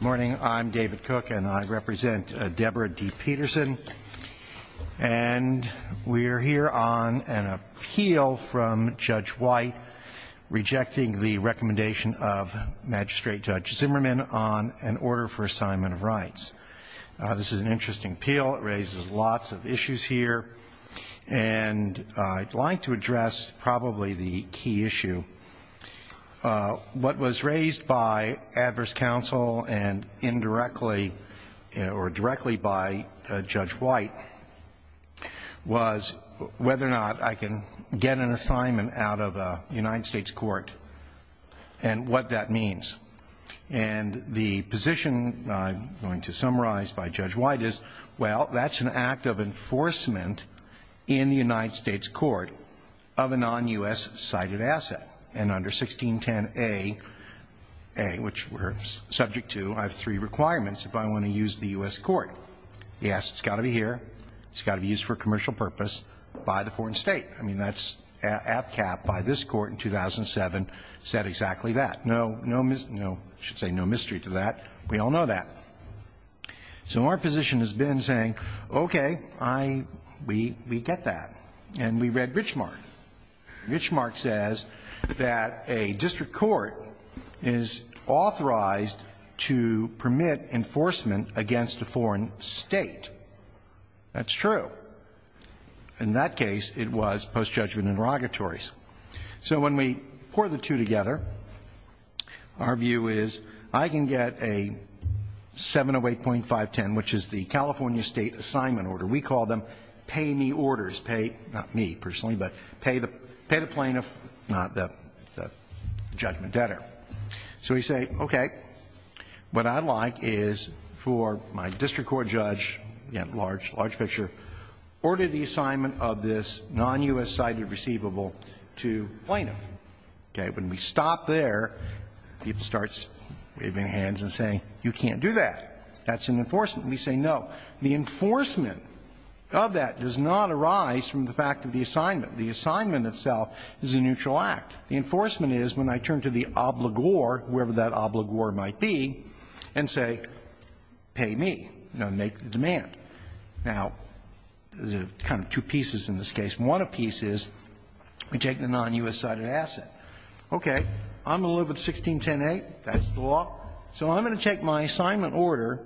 Morning, I'm David Cook and I represent Deborah D. Peterson and we're here on an appeal from Judge White rejecting the recommendation of Magistrate Judge Zimmerman on an order for assignment of rights. This is an interesting appeal. It raises lots of issues here and I'd like to address probably the key issue. What was raised by adverse counsel and indirectly or directly by Judge White was whether or not I can get an assignment out of a United States Court and what that means. And the position I'm going to summarize by Judge White is well that's an act of enforcement in the United States Court of a non-U.S. cited asset and under 1610A, which we're subject to, I have three requirements if I want to use the U.S. court. Yes, it's got to be here. It's got to be used for commercial purpose by the foreign state. I mean, that's APCAP by this court in 2007 said exactly that. No, no, I should say no mystery to that. We all know that. So our position has been saying, okay, I, we, we get that. And we read Richmark. Richmark says that a district court is authorized to permit enforcement against a foreign state. That's true. In that case, it was post-judgment inrogatories. So when we pour the two together, our view is I can get a 708.510, which is the California State Assignment Order. We call them pay me orders. Pay, not me personally, but pay the, pay the plaintiff, not the, the judgment debtor. So we say, okay, what I'd like is for my district court judge, you know, large, large picture, order the assignment of this non-U.S. cited receivable to plaintiff. Okay? When we stop there, people start waving hands and say, you can't do that. That's an enforcement. We say no. The enforcement of that does not arise from the fact of the assignment. The assignment itself is a neutral act. The enforcement is when I turn to the obligor, whoever that obligor might be, and say, pay me, you know, make the demand. Now, there's kind of two pieces in this case. One piece is we take the non-U.S. cited asset. Okay, I'm going to live with 1610A. That's the law. So I'm going to take my assignment order,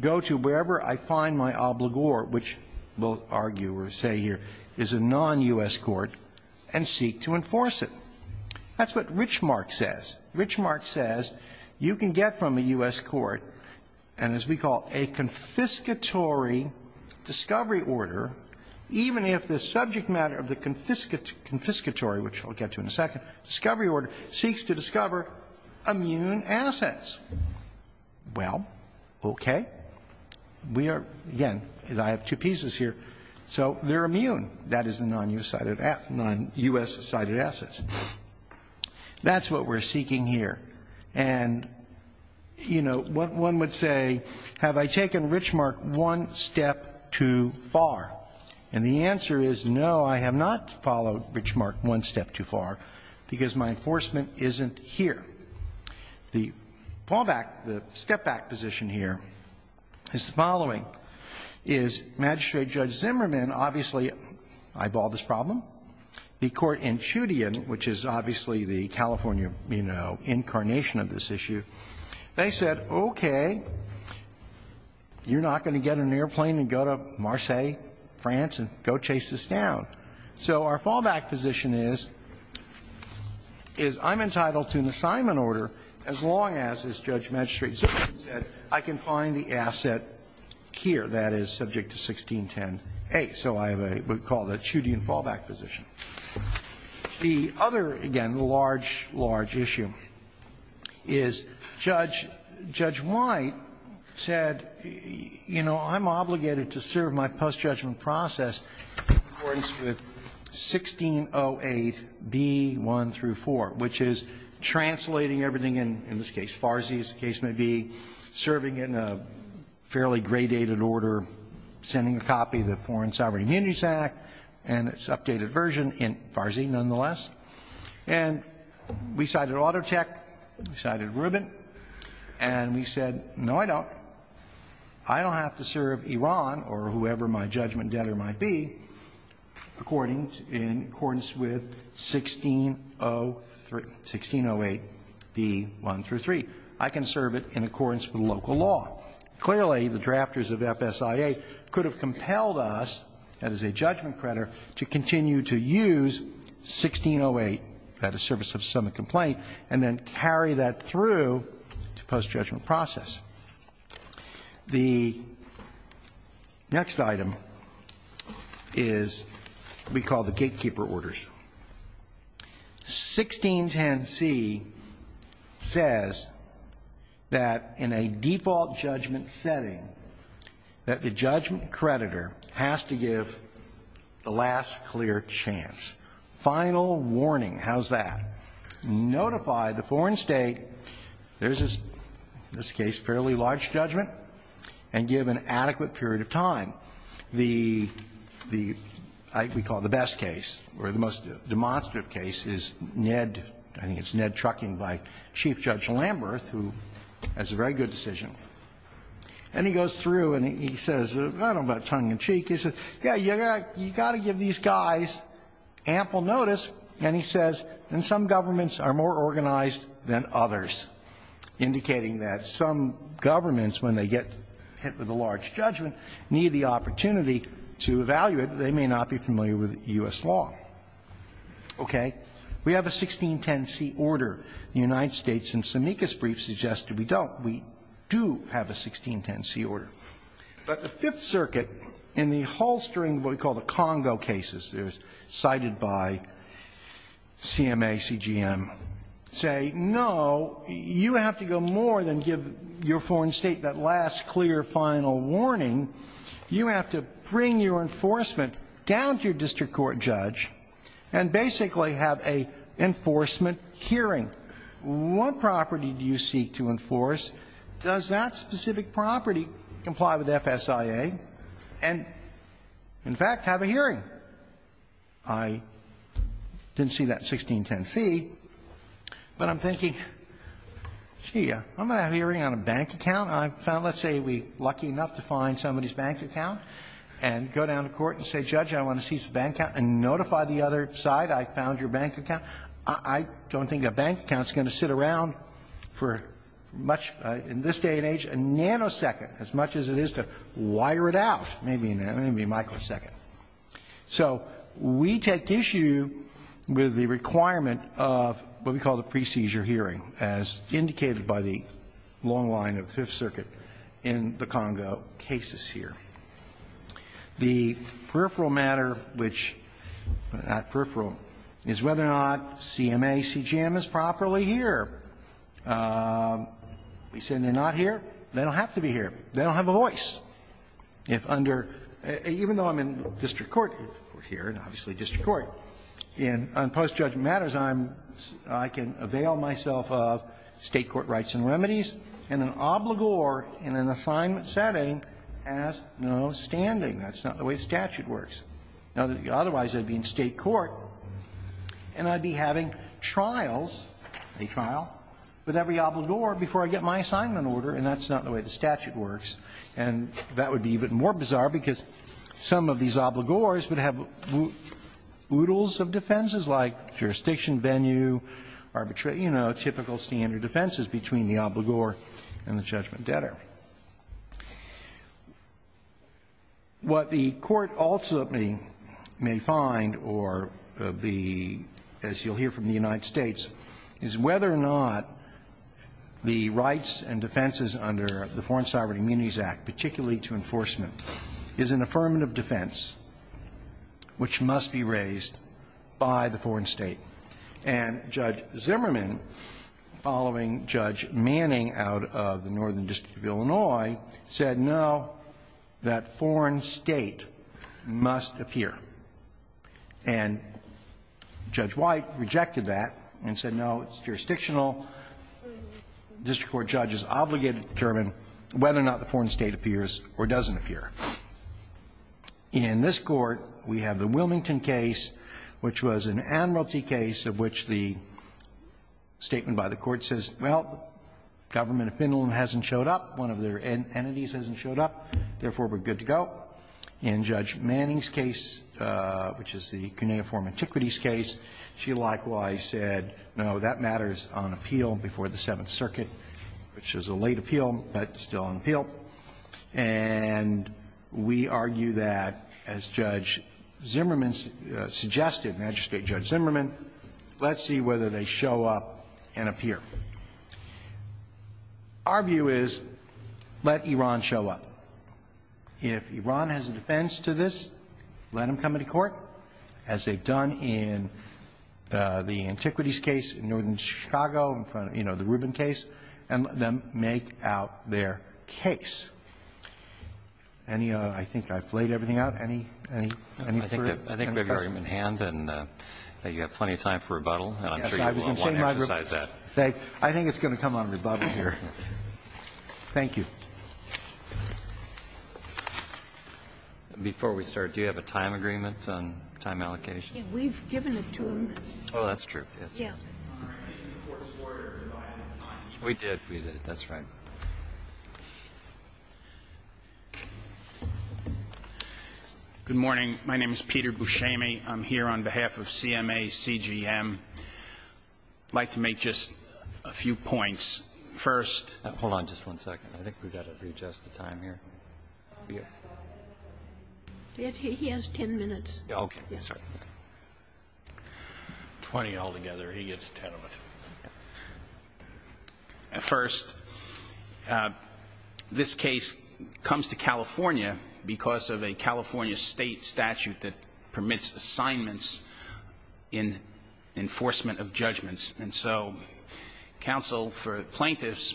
go to wherever I find my obligor, which both argue or say here, is a non-U.S. court, and seek to enforce it. That's what Richmark says. Richmark says you can get from a U.S. court, and as we call it, a confiscatory discovery order, even if the subject matter of the confiscatory, which I'll get to in a second, discovery order seeks to discover immune assets. Well, okay. We are, again, I have two pieces here. So they're immune. That is a non-U.S. cited asset. That's what we're seeking here. And, you know, one would say, have I taken Richmark one step too far? And the answer is, no, I have not followed Richmark one step too far, because my enforcement isn't here. The fallback, the step-back position here is the following, is Magistrate Judge Zimmerman obviously eyeballed this problem. The court in Choudian, which is obviously the California, you know, incarnation of this issue, they said, okay, you're not going to get an airplane and go to Marseilles, France, and go chase this down. So our fallback position is, is I'm entitled to an assignment order as long as this Judge Magistrate Zimmerman said I can find the asset here that is subject to 1610a. So I have a, we call that Choudian fallback position. The other, again, large, large issue is Judge, Judge White said, you know, I'm obligated to serve my post-judgment process in accordance with 1608b1 through 4, which is translating everything in, in this case, Farsi, as the case may be, serving in a fairly gradated order, sending a copy of the Foreign Sovereign Immunities Act and its updated version in Farsi, nonetheless. And we cited Auto Tech, we cited Rubin, and we said, no, I don't. I don't have to serve Iran or whoever my judgment debtor might be according, in accordance with 1603, 1608b1 through 3. I can serve it in accordance with local law. Clearly, the drafters of FSIA could have compelled us, as a judgment creditor, to continue to use 1608 at the service of some complaint and then carry that through to post-judgment process. The next item is what we call the gatekeeper orders. 1610c says that in a default judgment setting, that the judgment creditor has to give the last clear chance. Final warning. How's that? Notify the foreign state, there's this case, fairly large judgment, and give an adequate period of time. The, the, we call it the best case, or the most demonstrative case, is Ned, I think it's Ned Trucking by Chief Judge Lamberth, who has a very good decision. And he goes through and he says, I don't know about tongue-in-cheek, he says, yeah, you got to give these guys ample notice. And he says, and some governments are more organized than others, indicating that some governments when they get hit with a large judgment, need the opportunity to evaluate. They may not be familiar with U.S. law. Okay? We have a 1610c order. The United States in Sammika's brief suggested we don't. We do have a 1610c order. But the Fifth Circuit, in the holstering of what we call the Congo cases, they're cited by CMA, CGM, say, no, you have to go more than give your foreign state that last clear final warning. You have to bring your enforcement down to your district court judge and basically have a enforcement hearing. What property do you seek to enforce? Does that specific property comply with FSIA? Right? And, in fact, have a hearing. I didn't see that 1610c, but I'm thinking, gee, I'm going to have a hearing on a bank account. I found, let's say we're lucky enough to find somebody's bank account and go down to court and say, Judge, I want to seize the bank account and notify the other side I found your bank account. I don't think that bank account is going to sit around for much, in this day and age, a nanosecond, as much as it is to wire it out, maybe a microsecond. So we take issue with the requirement of what we call the pre-seizure hearing, as indicated by the long line of the Fifth Circuit in the Congo cases here. The peripheral matter, which at peripheral, is whether or not CMA, CGM is properly here. We say they're not here. They don't have to be here. They don't have a voice. If under, even though I'm in district court here, and obviously district court, in post-judgement matters, I'm, I can avail myself of State court rights and remedies in an obligor, in an assignment setting, as no standing. That's not the way the statute works. Otherwise, I'd be in State court and I'd be having trials, any trial, with every obligor before I get my assignment order, and that's not the way the statute works. And that would be even more bizarre, because some of these obligors would have oodles of defenses, like jurisdiction venue, arbitrary you know, typical standard defenses between the obligor and the judgment debtor. What the Court also may find, or the, as you'll hear from the United States Supreme Court in the United States, is whether or not the rights and defenses under the Foreign Sovereign Immunities Act, particularly to enforcement, is an affirmative defense, which must be raised by the foreign state. And Judge Zimmerman, following Judge Manning out of the Northern District of Illinois, said no, that foreign state must appear. And Judge White rejected that and said, no, it's jurisdictional. The district court judge is obligated to determine whether or not the foreign state appears or doesn't appear. In this Court, we have the Wilmington case, which was an admiralty case of which the statement by the Court says, well, the government of Finland hasn't showed up, one of their entities hasn't showed up, therefore we're good to go. In Judge Manning's case, which is the Cuneiform Antiquities case, she likewise said, no, that matters on appeal before the Seventh Circuit, which is a late appeal, but still on appeal. And we argue that, as Judge Zimmerman suggested, Magistrate Judge Zimmerman, let's see whether they show up and appear. Our view is, let Iran show up. If Iran has a defense to this, let them come into court, as they've done in the Antiquities case in Northern Chicago, you know, the Rubin case, and let them make out their case. Any other? I think I've laid everything out. Any further? I think we have your argument in hand and that you have plenty of time for rebuttal. And I'm sure you will want to emphasize that. I think it's going to come on rebuttal here. Thank you. Before we start, do you have a time agreement on time allocation? We've given it to him. Oh, that's true. Yeah. We did, we did. That's right. Good morning. My name is Peter Buscemi. I'm here on behalf of CMACGM. I'd like to make just a few points. First. Hold on just one second. I think we've got to readjust the time here. He has 10 minutes. Okay. Yes, sir. 20 altogether. He gets 10 of it. First, this case comes to California because of a California state statute that permits assignments in enforcement of judgments. And so counsel for plaintiffs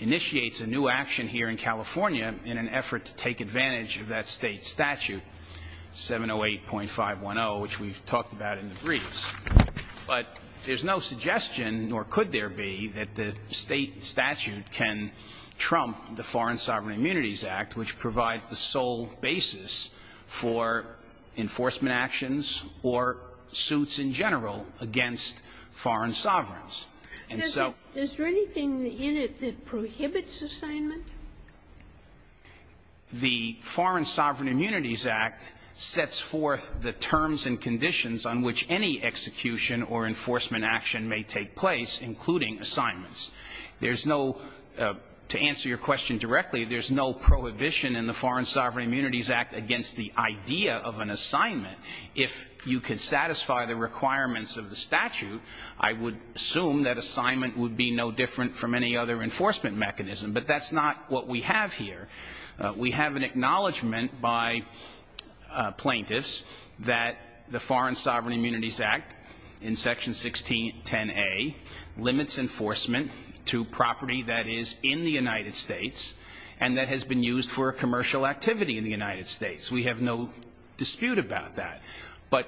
initiates a new action here in California in an effort to take advantage of that state statute, 708.510, which we've talked about in the briefs. But there's no suggestion, nor could there be, that the state statute can trump the enforcement actions or suits in general against foreign sovereigns. Is there anything in it that prohibits assignment? The Foreign Sovereign Immunities Act sets forth the terms and conditions on which any execution or enforcement action may take place, including assignments. There's no, to answer your question directly, there's no prohibition in the Foreign Sovereign Immunities Act on assignment. If you can satisfy the requirements of the statute, I would assume that assignment would be no different from any other enforcement mechanism. But that's not what we have here. We have an acknowledgment by plaintiffs that the Foreign Sovereign Immunities Act in Section 1610A limits enforcement to property that is in the United States and that has been used for commercial activity in the United States. We have no dispute about that. But,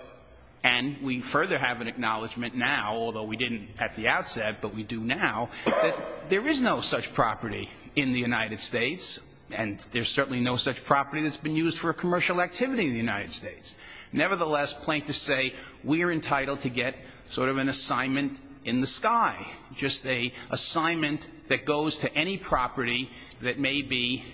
and we further have an acknowledgment now, although we didn't at the outset, but we do now, that there is no such property in the United States, and there's certainly no such property that's been used for commercial activity in the United States. Nevertheless, plaintiffs say we're entitled to get sort of an assignment in the sky, just a assignment that goes to any property that may be,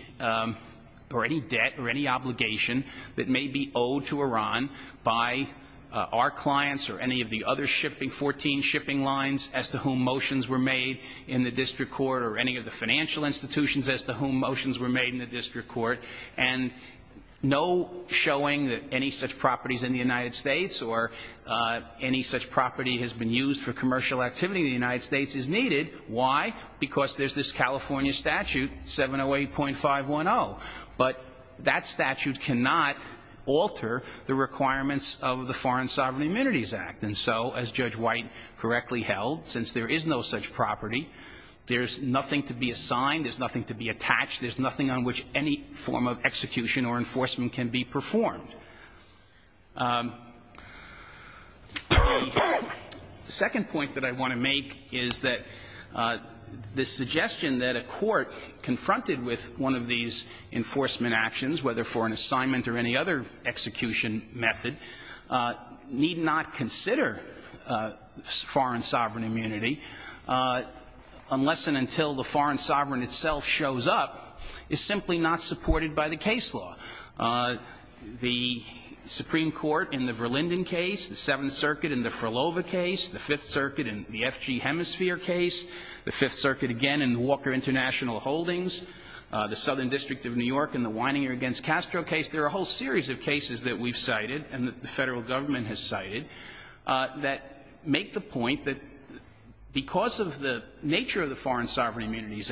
or any debt or any obligation that may be owed to Iran by our clients or any of the other shipping, 14 shipping lines as to whom motions were made in the district court or any of the financial institutions as to whom motions were made in the district court. And no showing that any such properties in the United States or any such property has been used for commercial activity in the United States is needed. Why? Because there's this California statute, 708.510, but that statute cannot alter the requirements of the Foreign Sovereign Immunities Act. And so, as Judge White correctly held, since there is no such property, there's nothing to be assigned, there's nothing to be attached, there's nothing on which any form of execution or enforcement can be performed. The second point that I want to make is that the suggestion that a court confronted with one of these enforcement actions, whether for an assignment or any other execution method, need not consider foreign sovereign immunity unless and until the foreign sovereign itself shows up, is simply not supported by the case law. The Supreme Court in the Verlinden case, the Seventh Circuit in the Frilova case, the Fifth Circuit in the FG Hemisphere case, the Fifth Circuit again in the Walker International Holdings, the Southern District of New York in the Wininger against Castro case. There are a whole series of cases that we've cited and that the Federal Government has cited that make the point that because of the nature of the Foreign Sovereign comes in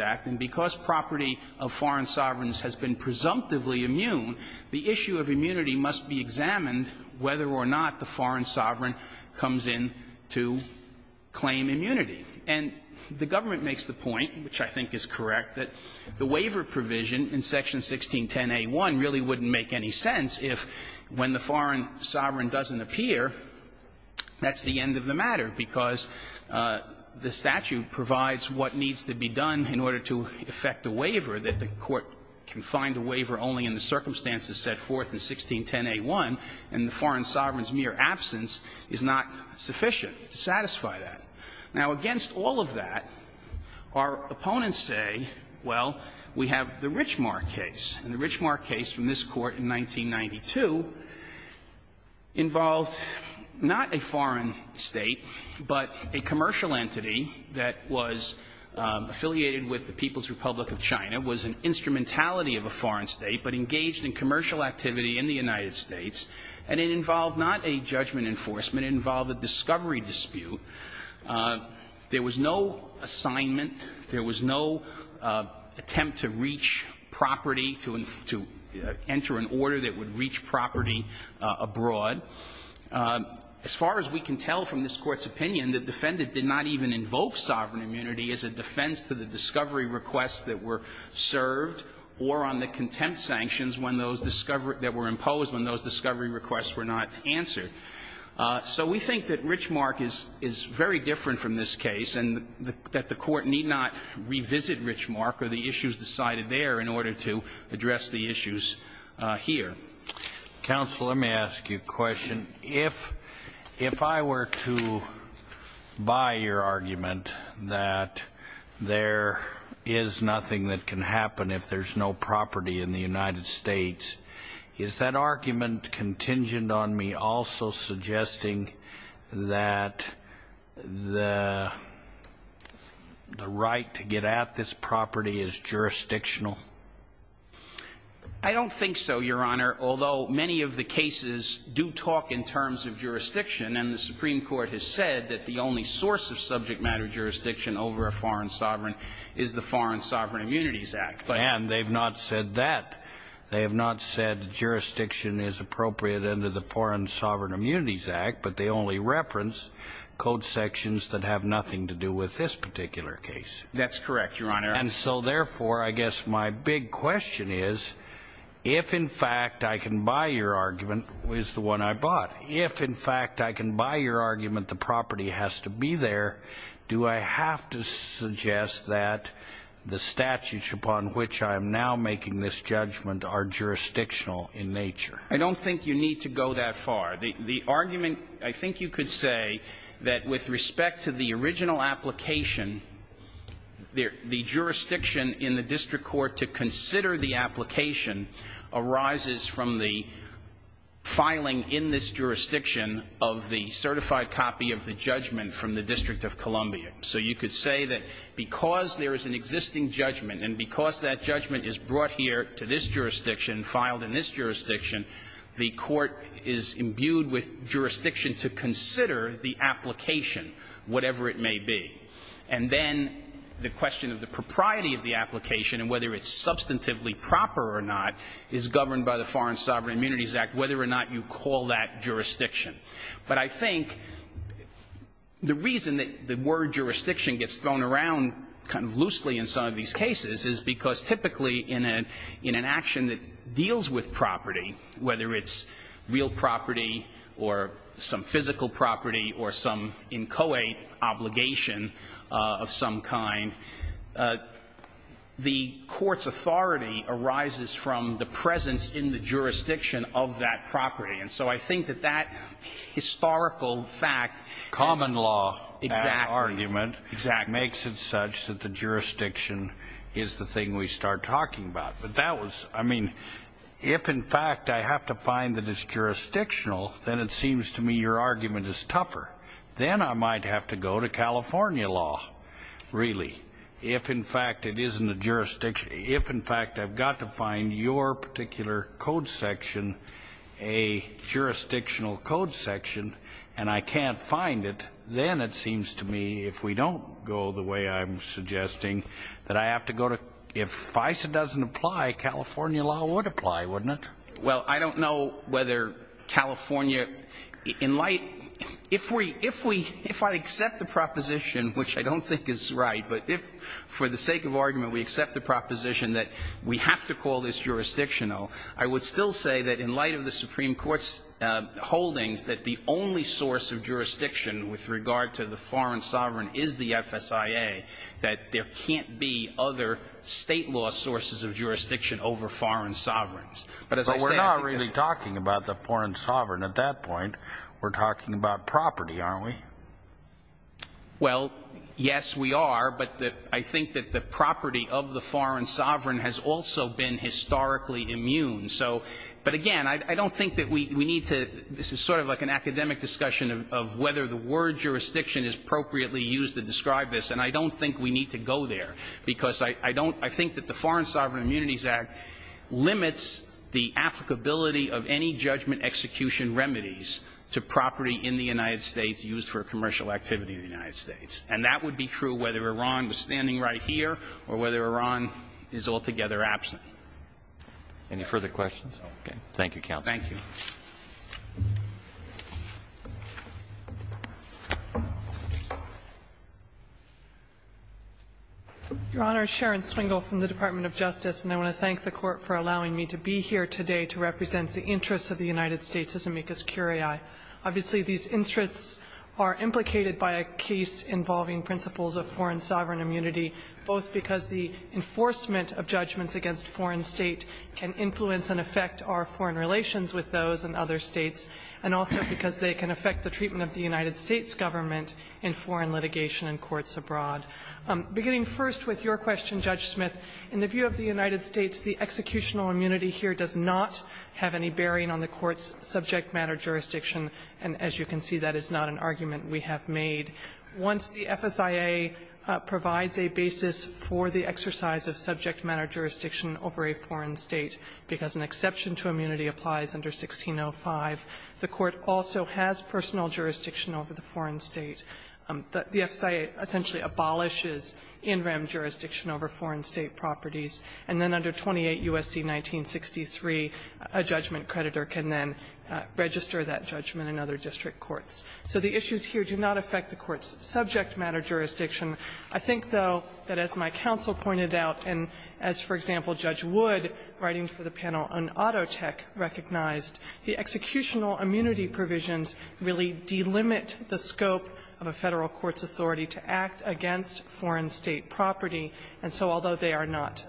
to claim immunity. And the government makes the point, which I think is correct, that the waiver provision in Section 1610a1 really wouldn't make any sense if, when the foreign sovereign doesn't appear, that's the end of the matter, because the statute provides what needs to be done in order to effect a waiver, that the court can find a waiver only in the circumstances set forth in 1610a1, and the foreign sovereign's mere absence is not sufficient to satisfy that. Now, against all of that, our opponents say, well, we have the Richmar case. And the Richmar case from this Court in 1992 involved not a foreign state, but a commercial entity that was affiliated with the People's Republic of China, was an instrumentality of a foreign state, but engaged in commercial activity in the United States. And it involved not a judgment enforcement. It involved a discovery dispute. There was no assignment. There was no attempt to reach property, to enter an order that would reach property abroad. As far as we can tell from this Court's opinion, the defendant did not even invoke sovereign immunity as a defense to the discovery requests that were served or on the contempt sanctions that were imposed when those discovery requests were not answered. So we think that Richmar is very different from this case, and that the Court need not revisit Richmar or the issues decided there in order to address the issues here. Counsel, let me ask you a question. If I were to buy your argument that there is nothing that can happen if there's no property in the United States, is that argument contingent on me also suggesting that the right to get at this property is jurisdictional? I don't think so, Your Honor, although many of the cases do talk in terms of jurisdiction, and the Supreme Court has said that the only source of subject matter jurisdiction over a foreign sovereign is the Foreign Sovereign Immunities Act. And they've not said that. They have not said jurisdiction is appropriate under the Foreign Sovereign Immunities Act, but they only reference code sections that have nothing to do with this particular case. That's correct, Your Honor. And so, therefore, I guess my big question is, if, in fact, I can buy your argument as the one I bought, if, in fact, I can buy your argument the property has to be there, do I have to suggest that the statutes upon which I am now making this judgment are jurisdictional in nature? I don't think you need to go that far. The argument, I think you could say that with respect to the original application, the jurisdiction in the district court to consider the application arises from the filing in this jurisdiction of the certified copy of the judgment from the District of Columbia. So you could say that because there is an existing judgment and because that judgment is brought here to this jurisdiction, filed in this jurisdiction, the court is imbued with jurisdiction to consider the application, whatever it may be. And then the question of the propriety of the application and whether it's substantively proper or not is governed by the Foreign Sovereign Immunities Act, whether or not you call that jurisdiction. But I think the reason that the word jurisdiction gets thrown around kind of loosely in some of these cases is because typically in an action that deals with property, whether it's real property or some physical property or some inchoate obligation of some kind, the court's authority arises from the presence in the jurisdiction of that property. And so I think that that historical fact as a common law argument makes it such that the jurisdiction is the thing we start talking about. But that was, I mean, if in fact I have to find that it's jurisdictional, then it seems to me your argument is tougher. Then I might have to go to California law, really. If in fact it isn't a jurisdiction, if in fact I've got to find your particular code section a jurisdictional code section and I can't find it, then it seems to me if we apply, California law would apply, wouldn't it? Well, I don't know whether California, in light, if we, if we, if I accept the proposition, which I don't think is right, but if for the sake of argument we accept the proposition that we have to call this jurisdictional, I would still say that in light of the Supreme Court's holdings that the only source of jurisdiction with regard to the foreign sovereign is the FSIA, that there can't be other state law sources of jurisdiction over foreign sovereigns. But as I say, I think that's... But we're not really talking about the foreign sovereign at that point. We're talking about property, aren't we? Well, yes, we are, but I think that the property of the foreign sovereign has also been historically immune. So, but again, I don't think that we need to, this is sort of like an academic discussion of whether the word jurisdiction is appropriately used to describe this, and I don't think we need to go there because I don't, I think that the foreign sovereign immunities act limits the applicability of any judgment execution remedies to property in the United States used for commercial activity in the United States. And that would be true whether Iran was standing right here or whether Iran is altogether absent. Any further questions? Okay. Thank you, counsel. Thank you. Your Honor, Sharon Swingle from the Department of Justice, and I want to thank the Court for allowing me to be here today to represent the interests of the United States as amicus curiae. Obviously, these interests are implicated by a case involving principles of foreign sovereign immunity, both because the enforcement of judgments against foreign state can influence and affect our foreign relations with those in other states, and also because they can affect the treatment of the United States government in foreign litigation and courts abroad. Beginning first with your question, Judge Smith, in the view of the United States, the executional immunity here does not have any bearing on the court's subject matter jurisdiction, and as you can see, that is not an argument we have made. Once the FSIA provides a basis for the exercise of subject matter jurisdiction over a foreign state, because an exception to immunity applies under 1605, the court also has personal jurisdiction over the foreign state. The FSIA essentially abolishes in rem jurisdiction over foreign state properties, and then under 28 U.S.C. 1963, a judgment creditor can then register that judgment in other district courts. So the issues here do not affect the court's subject matter jurisdiction. I think, though, that as my counsel pointed out, and as, for example, Judge Wood writing for the panel on Auto Tech recognized, the executional immunity provisions really delimit the scope of a Federal court's authority to act against foreign state property. And so although they are not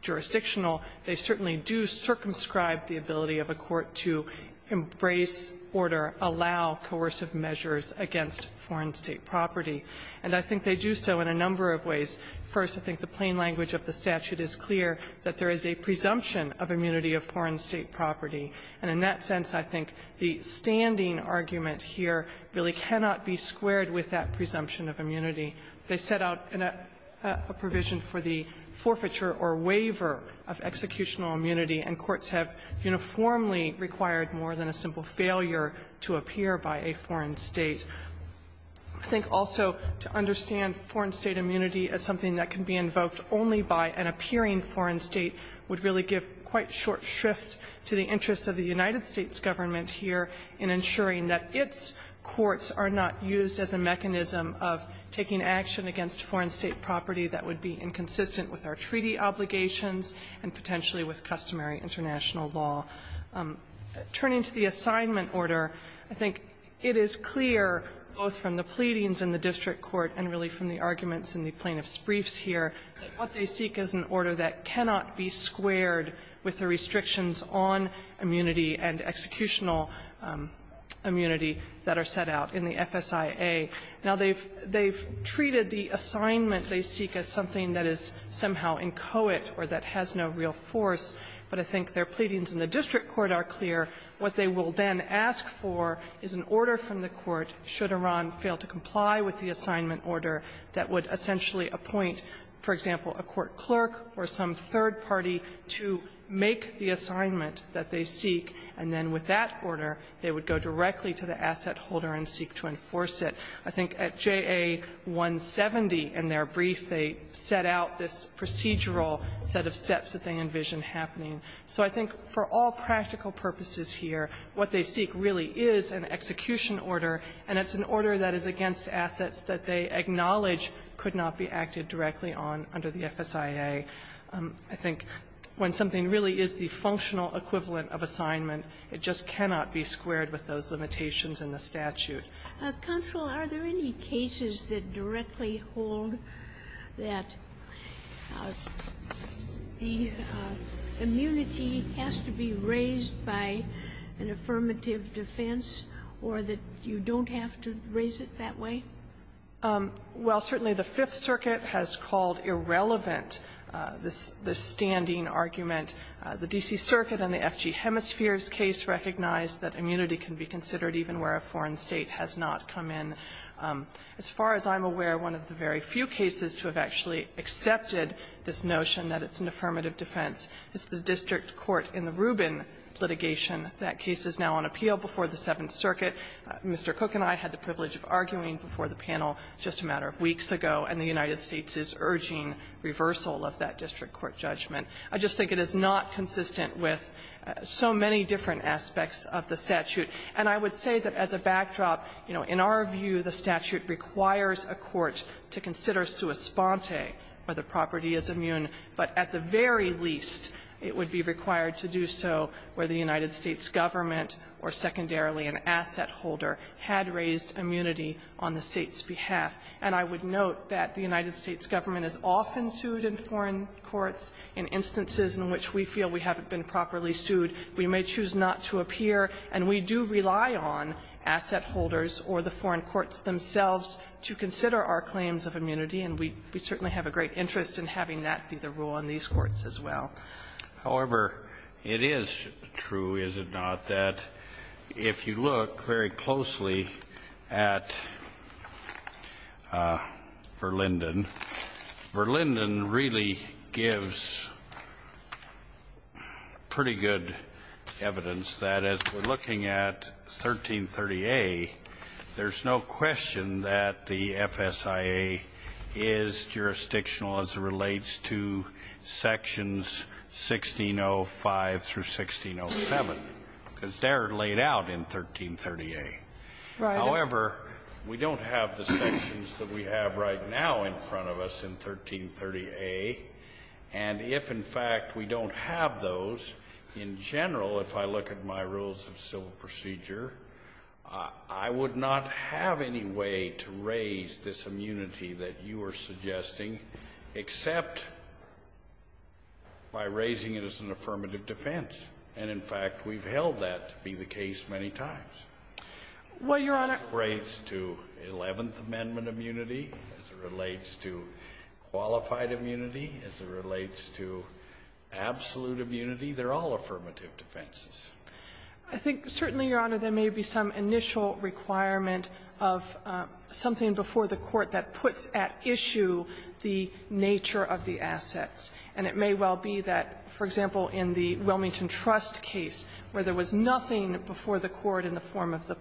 jurisdictional, they certainly do circumscribe the ability of a court to embrace order, allow coercive measures against foreign state property. And I think they do so in a number of ways. First, I think the plain language of the statute is clear, that there is a presumption of immunity of foreign state property. And in that sense, I think the standing argument here really cannot be squared with that presumption of immunity. They set out a provision for the forfeiture or waiver of executional immunity, and courts have uniformly required more than a simple failure to appear by a foreign state. I think also to understand foreign state immunity as something that can be invoked only by an appearing foreign state would really give quite short shrift to the interests of the United States government here in ensuring that its courts are not used as a mechanism of taking action against foreign state property that would be inconsistent with our treaty obligations and potentially with customary international law. Turning to the assignment order, I think it is clear both from the pleadings in the district court and really from the arguments in the plaintiff's briefs here that what they seek is an order that cannot be squared with the restrictions on immunity and executional immunity that are set out in the FSIA. Now, they've treated the assignment they seek as something that is somehow inchoate or that has no real force, but I think their pleadings in the district court are clear. What they will then ask for is an order from the court, should Iran fail to comply with the assignment order, that would essentially appoint, for example, a court clerk or some third party to make the assignment that they seek, and then with that order they would go directly to the asset holder and seek to enforce it. I think at JA 170 in their brief, they set out this procedural set of steps that they envisioned happening. So I think for all practical purposes here, what they seek really is an execution order, and it's an order that is against assets that they acknowledge could not be acted directly on under the FSIA. I think when something really is the functional equivalent of assignment, it just cannot be squared with those limitations in the statute. Counsel, are there any cases that directly hold that the immunity has to be raised by an affirmative defense or that you don't have to raise it that way? Well, certainly the Fifth Circuit has called irrelevant the standing argument. The D.C. Circuit on the F.G. Hemisphere's case recognized that immunity can be considered even where a foreign state has not come in. As far as I'm aware, one of the very few cases to have actually accepted this notion that it's an affirmative defense is the district court in the Rubin litigation. That case is now on appeal before the Seventh Circuit. Mr. Cook and I had the privilege of arguing before the panel just a matter of weeks ago, and the United States is urging reversal of that district court judgment. I just think it is not consistent with so many different aspects of the statute. And I would say that as a backdrop, you know, in our view, the statute requires a court to consider sua sponte where the property is immune, but at the very least it would be required to do so where the United States government or secondarily an asset holder had raised immunity on the State's behalf. And I would note that the United States government is often sued in foreign courts in instances in which we feel we haven't been properly sued. We may choose not to appear, and we do rely on asset holders or the foreign courts themselves to consider our claims of immunity, and we certainly have a great interest in having that be the rule on these courts as well. However, it is true, is it not, that if you look very closely at Verlinden, Verlinden really gives pretty good evidence that as we're looking at 1330A, there's no question that the FSIA is jurisdictional as it relates to sections 1605 through 1607, because they're laid out in 1330A. Right. However, we don't have the sections that we have right now in front of us in 1330A. And if, in fact, we don't have those, in general, if I look at my rules of civil procedure, I would not have any way to raise this immunity that you are suggesting except by raising it as an affirmative defense. And, in fact, we've held that to be the case many times. Well, Your Honor. As it relates to Eleventh Amendment immunity, as it relates to qualified immunity, as it relates to absolute immunity, they're all affirmative defenses. I think certainly, Your Honor, there may be some initial requirement of something before the Court that puts at issue the nature of the assets. And it may well be that, for example, in the Wilmington Trust case, where there was nothing before the Court in the form of the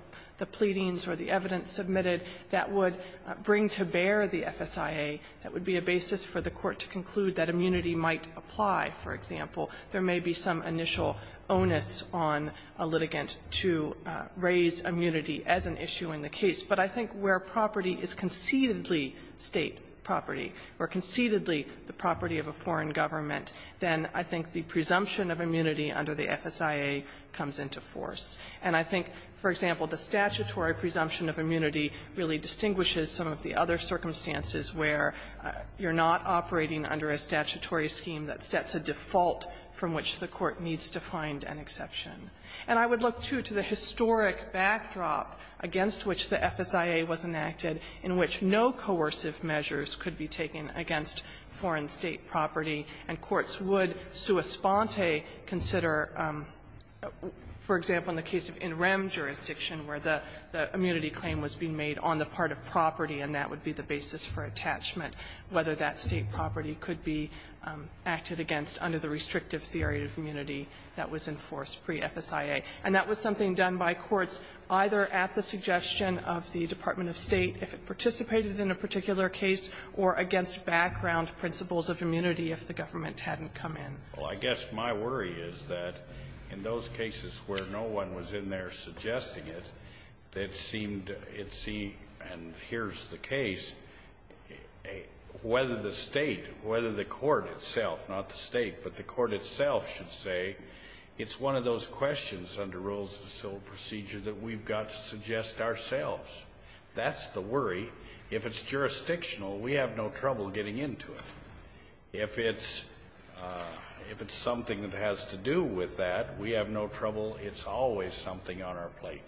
pleadings or the evidence submitted that would bring to bear the FSIA that would be a basis for the Court to conclude that immunity might apply, for example. There may be some initial onus on a litigant to raise immunity as an issue in the case. But I think where property is concededly State property or concededly the property of a foreign government, then I think the presumption of immunity under the FSIA comes into force. And I think, for example, the statutory presumption of immunity really distinguishes some of the other circumstances where you're not operating under a statutory scheme that sets a default from which the Court needs to find an exception. And I would look, too, to the historic backdrop against which the FSIA was enacted in which no coercive measures could be taken against foreign State property. And courts would, sua sponte, consider, for example, in the case of NREM jurisdiction, where the immunity claim was being made on the part of property, and that would be the basis for attachment, whether that State property could be acted against under the restrictive theory of immunity that was enforced pre-FSIA. And that was something done by courts either at the suggestion of the Department of State, if it participated in a particular case, or against background principles of immunity if the government hadn't come in. Well, I guess my worry is that in those cases where no one was in there suggesting it, it seemed to see, and here's the case, whether the State, whether the court itself not the State, but the court itself should say, it's one of those questions under rules of civil procedure that we've got to suggest ourselves. That's the worry. If it's jurisdictional, we have no trouble getting into it. If it's something that has to do with that, we have no trouble. It's always something on our plate.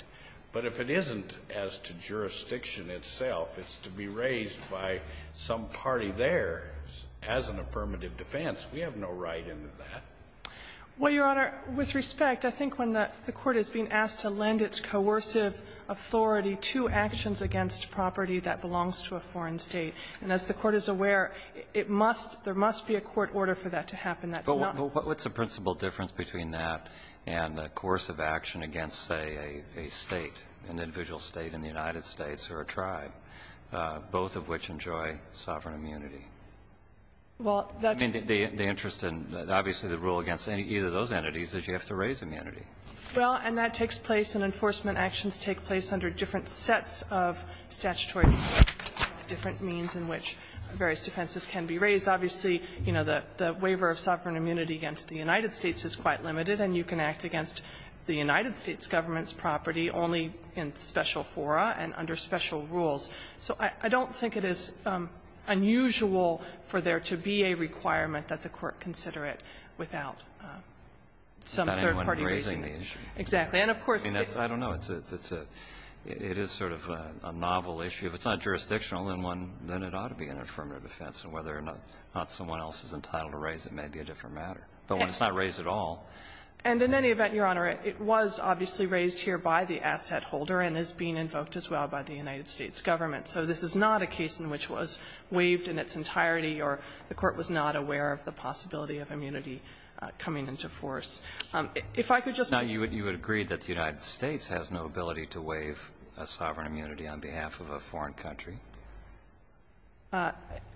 But if it isn't as to jurisdiction itself, it's to be raised by some party there as an affirmative defense. We have no right into that. Well, Your Honor, with respect, I think when the court is being asked to lend its coercive authority to actions against property that belongs to a foreign State, and as the Court is aware, it must, there must be a court order for that to happen. But what's the principal difference between that and coercive action against, say, a State, an individual State in the United States or a tribe, both of which enjoy sovereign immunity? Well, that's the interest in, obviously, the rule against either of those entities is you have to raise immunity. Well, and that takes place, and enforcement actions take place under different sets of statutory means, different means in which various defenses can be raised. Obviously, you know, the waiver of sovereign immunity against the United States is quite limited, and you can act against the United States government's property only in special fora and under special rules. So I don't think it is unusual for there to be a requirement that the Court consider it without some third-party reasoning. It's not anyone raising the issue. Exactly. And, of course, it's not. I don't know. It's a, it is sort of a novel issue. If it's not jurisdictional, then one, then it ought to be an affirmative defense, and whether or not someone else is entitled to raise it may be a different matter, but when it's not raised at all. And in any event, Your Honor, it was obviously raised here by the asset holder and is being invoked as well by the United States government. So this is not a case in which it was waived in its entirety or the Court was not aware of the possibility of immunity coming into force. If I could just be brief. Now, you would agree that the United States has no ability to waive a sovereign immunity on behalf of a foreign country?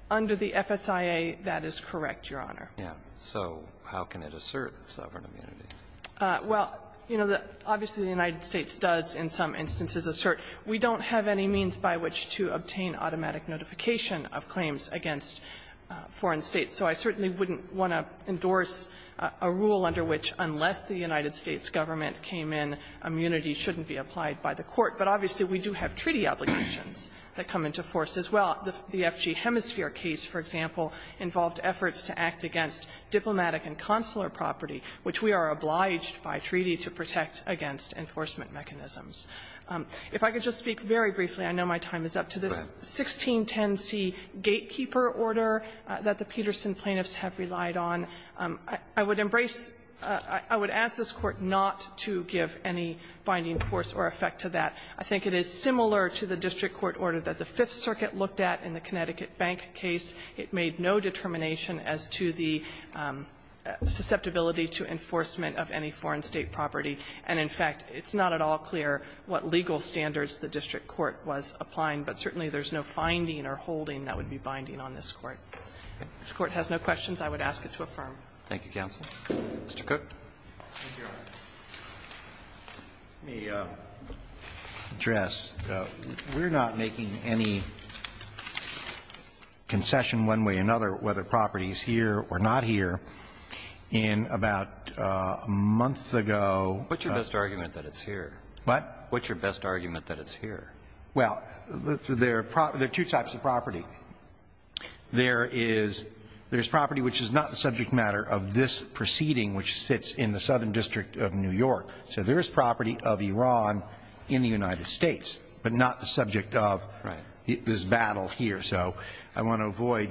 Under the FSIA, that is correct, Your Honor. Yeah. So how can it assert sovereign immunity? Well, you know, obviously the United States does in some instances assert we don't have any means by which to obtain automatic notification of claims against foreign States. So I certainly wouldn't want to endorse a rule under which unless the United States government came in, immunity shouldn't be applied by the Court. But obviously, we do have treaty obligations that come into force as well. The FG Hemisphere case, for example, involved efforts to act against diplomatic and consular property, which we are obliged by treaty to protect against enforcement mechanisms. If I could just speak very briefly, I know my time is up, to this 1610C gatekeeper order that the Peterson plaintiffs have relied on. I would embrace or ask this Court not to give any binding force or effect to that. I think it is similar to the district court order that the Fifth Circuit looked at in the Connecticut Bank case. It made no determination as to the susceptibility to enforcement of any foreign State property. And in fact, it's not at all clear what legal standards the district court was applying, but certainly there's no finding or holding that would be binding on this Court. If this Court has no questions, I would ask it to affirm. Roberts. Thank you, counsel. Mr. Cook. Let me address, we're not making any concession one way or another whether a property is here or not here. In about a month ago What's your best argument that it's here? What? What's your best argument that it's here? Well, there are two types of property. There is property which is not the subject matter of this proceeding, which sits in the Southern District of New York. So there is property of Iran in the United States, but not the subject of this battle here. So I want to avoid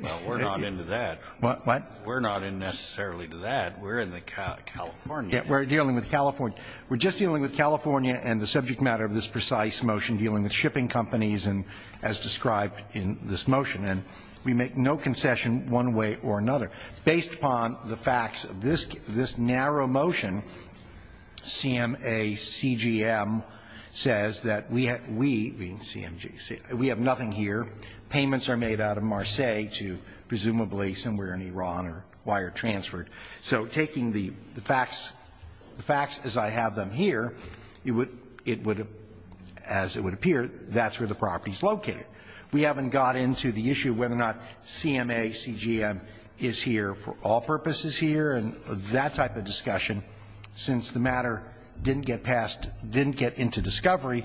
making it into that. What? We're not necessarily into that. We're in the California area. We're dealing with California. We're just dealing with California and the subject matter of this precise motion dealing with shipping companies and as described in this motion. And we make no concession one way or another. Based upon the facts of this narrow motion, CMACGM says that we have nothing here. Payments are made out of Marseilles to presumably somewhere in Iran or wire transferred. So taking the facts as I have them here, it would, as it would appear, that's where the property is located. We haven't got into the issue whether or not CMACGM is here for all purposes here and that type of discussion. Since the matter didn't get passed, didn't get into discovery,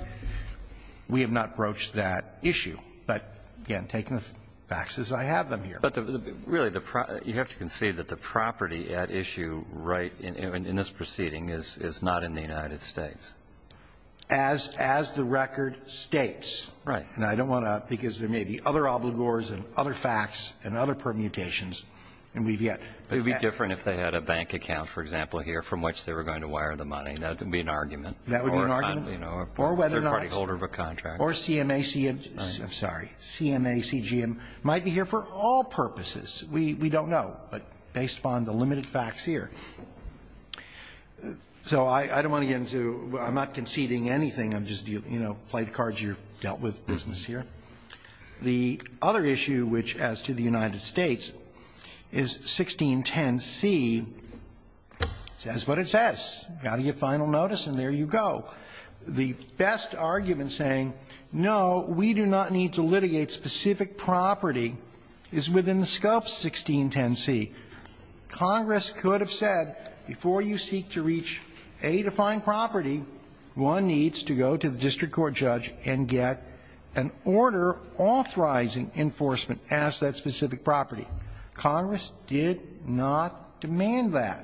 we have not broached that issue. But again, taking the facts as I have them here. But really, you have to concede that the property at issue right in this proceeding is not in the United States. As the record states. Right. And I don't want to, because there may be other obligors and other facts and other permutations, and we've yet to get that. But it would be different if they had a bank account, for example, here from which they were going to wire the money. That would be an argument. That would be an argument. Or whether or not. Or whether or not they're a partyholder of a contract. Or CMACGM, I'm sorry, CMACGM might be here for all purposes. We don't know, but based upon the limited facts here. So I don't want to get into, I'm not conceding anything. I'm just, you know, playing cards. You're dealt with business here. The other issue which as to the United States is 1610C says what it says. Got to get final notice and there you go. The best argument saying no, we do not need to litigate specific property is within the scope of 1610C. Congress could have said before you seek to reach A to find property, one needs to go to the district court judge and get an order authorizing enforcement as that specific property. Congress did not demand that.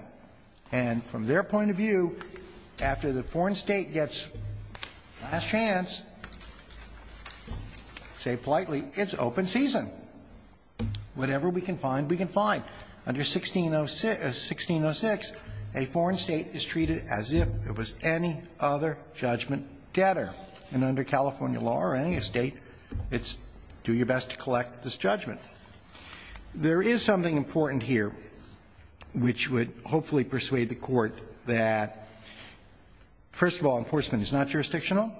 And from their point of view, after the foreign State gets last chance, say politely, it's open season. Whatever we can find, we can find. Under 1606, a foreign State is treated as if it was any other judgment debtor. And under California law or any State, it's do your best to collect this judgment. There is something important here which would hopefully persuade the Court that, first of all, enforcement is not jurisdictional,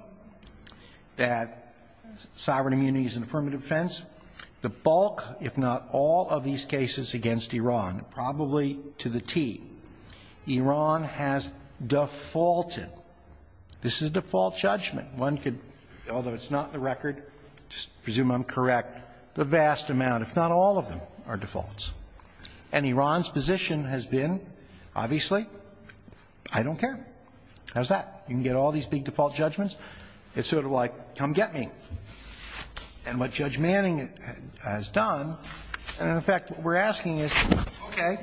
that sovereign immunity is an affirmative offense. The bulk, if not all, of these cases against Iran, probably to the T, Iran has defaulted. This is a default judgment. One could, although it's not in the record, just presume I'm correct, the vast amount if not all of them are defaults. And Iran's position has been, obviously, I don't care. How's that? You can get all these big default judgments? It's sort of like, come get me. And what Judge Manning has done, and in fact what we're asking is, okay,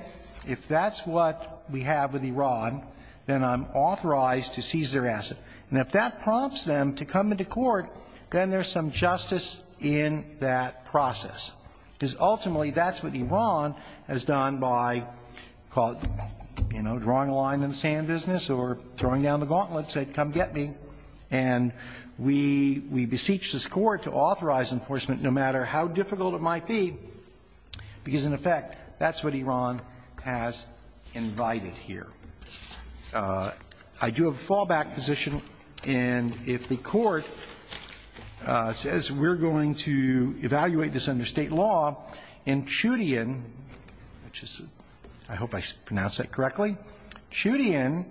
if that's what we have with Iran, then I'm authorized to seize their asset. And if that prompts them to come into court, then there's some justice in that process. Because ultimately, that's what Iran has done by, you know, drawing a line in the sand business or throwing down the gauntlet, said, come get me. And we beseech this Court to authorize enforcement no matter how difficult it might be, because, in effect, that's what Iran has invited here. I do have a fallback position. And if the Court says we're going to evaluate this under State law, in Chudian, which is, I hope I pronounced that correctly, Chudian,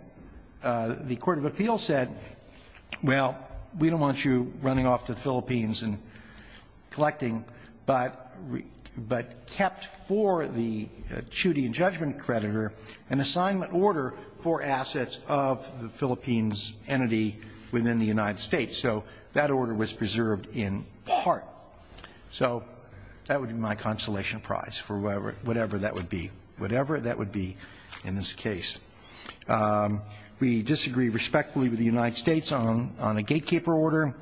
the Court of Appeals said, well, we don't want you running off to the Philippines and collecting, but kept for the Chudian judgment creditor an assignment order for assets of the within the United States, so that order was preserved in part. So that would be my consolation prize for whatever that would be, whatever that would be in this case. We disagree respectfully with the United States on a gatekeeper order.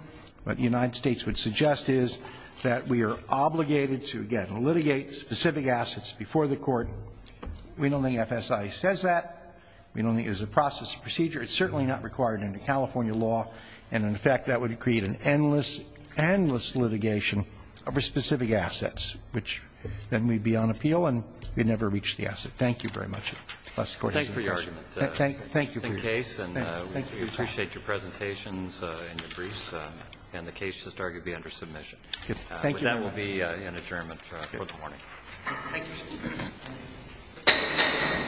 What the United States would suggest is that we are obligated to, again, litigate specific assets before the court. We don't think FSI says that. We don't think it's a process procedure. It's certainly not required under California law. And, in fact, that would create an endless, endless litigation over specific assets, which then we'd be on appeal, and we'd never reach the asset. Thank you very much. Bless the Court. Thank you for your arguments. Thank you. It's a case, and we appreciate your presentations and your briefs. And the case should, I argue, be under submission. Thank you. That will be an adjournment for the morning. Thank you.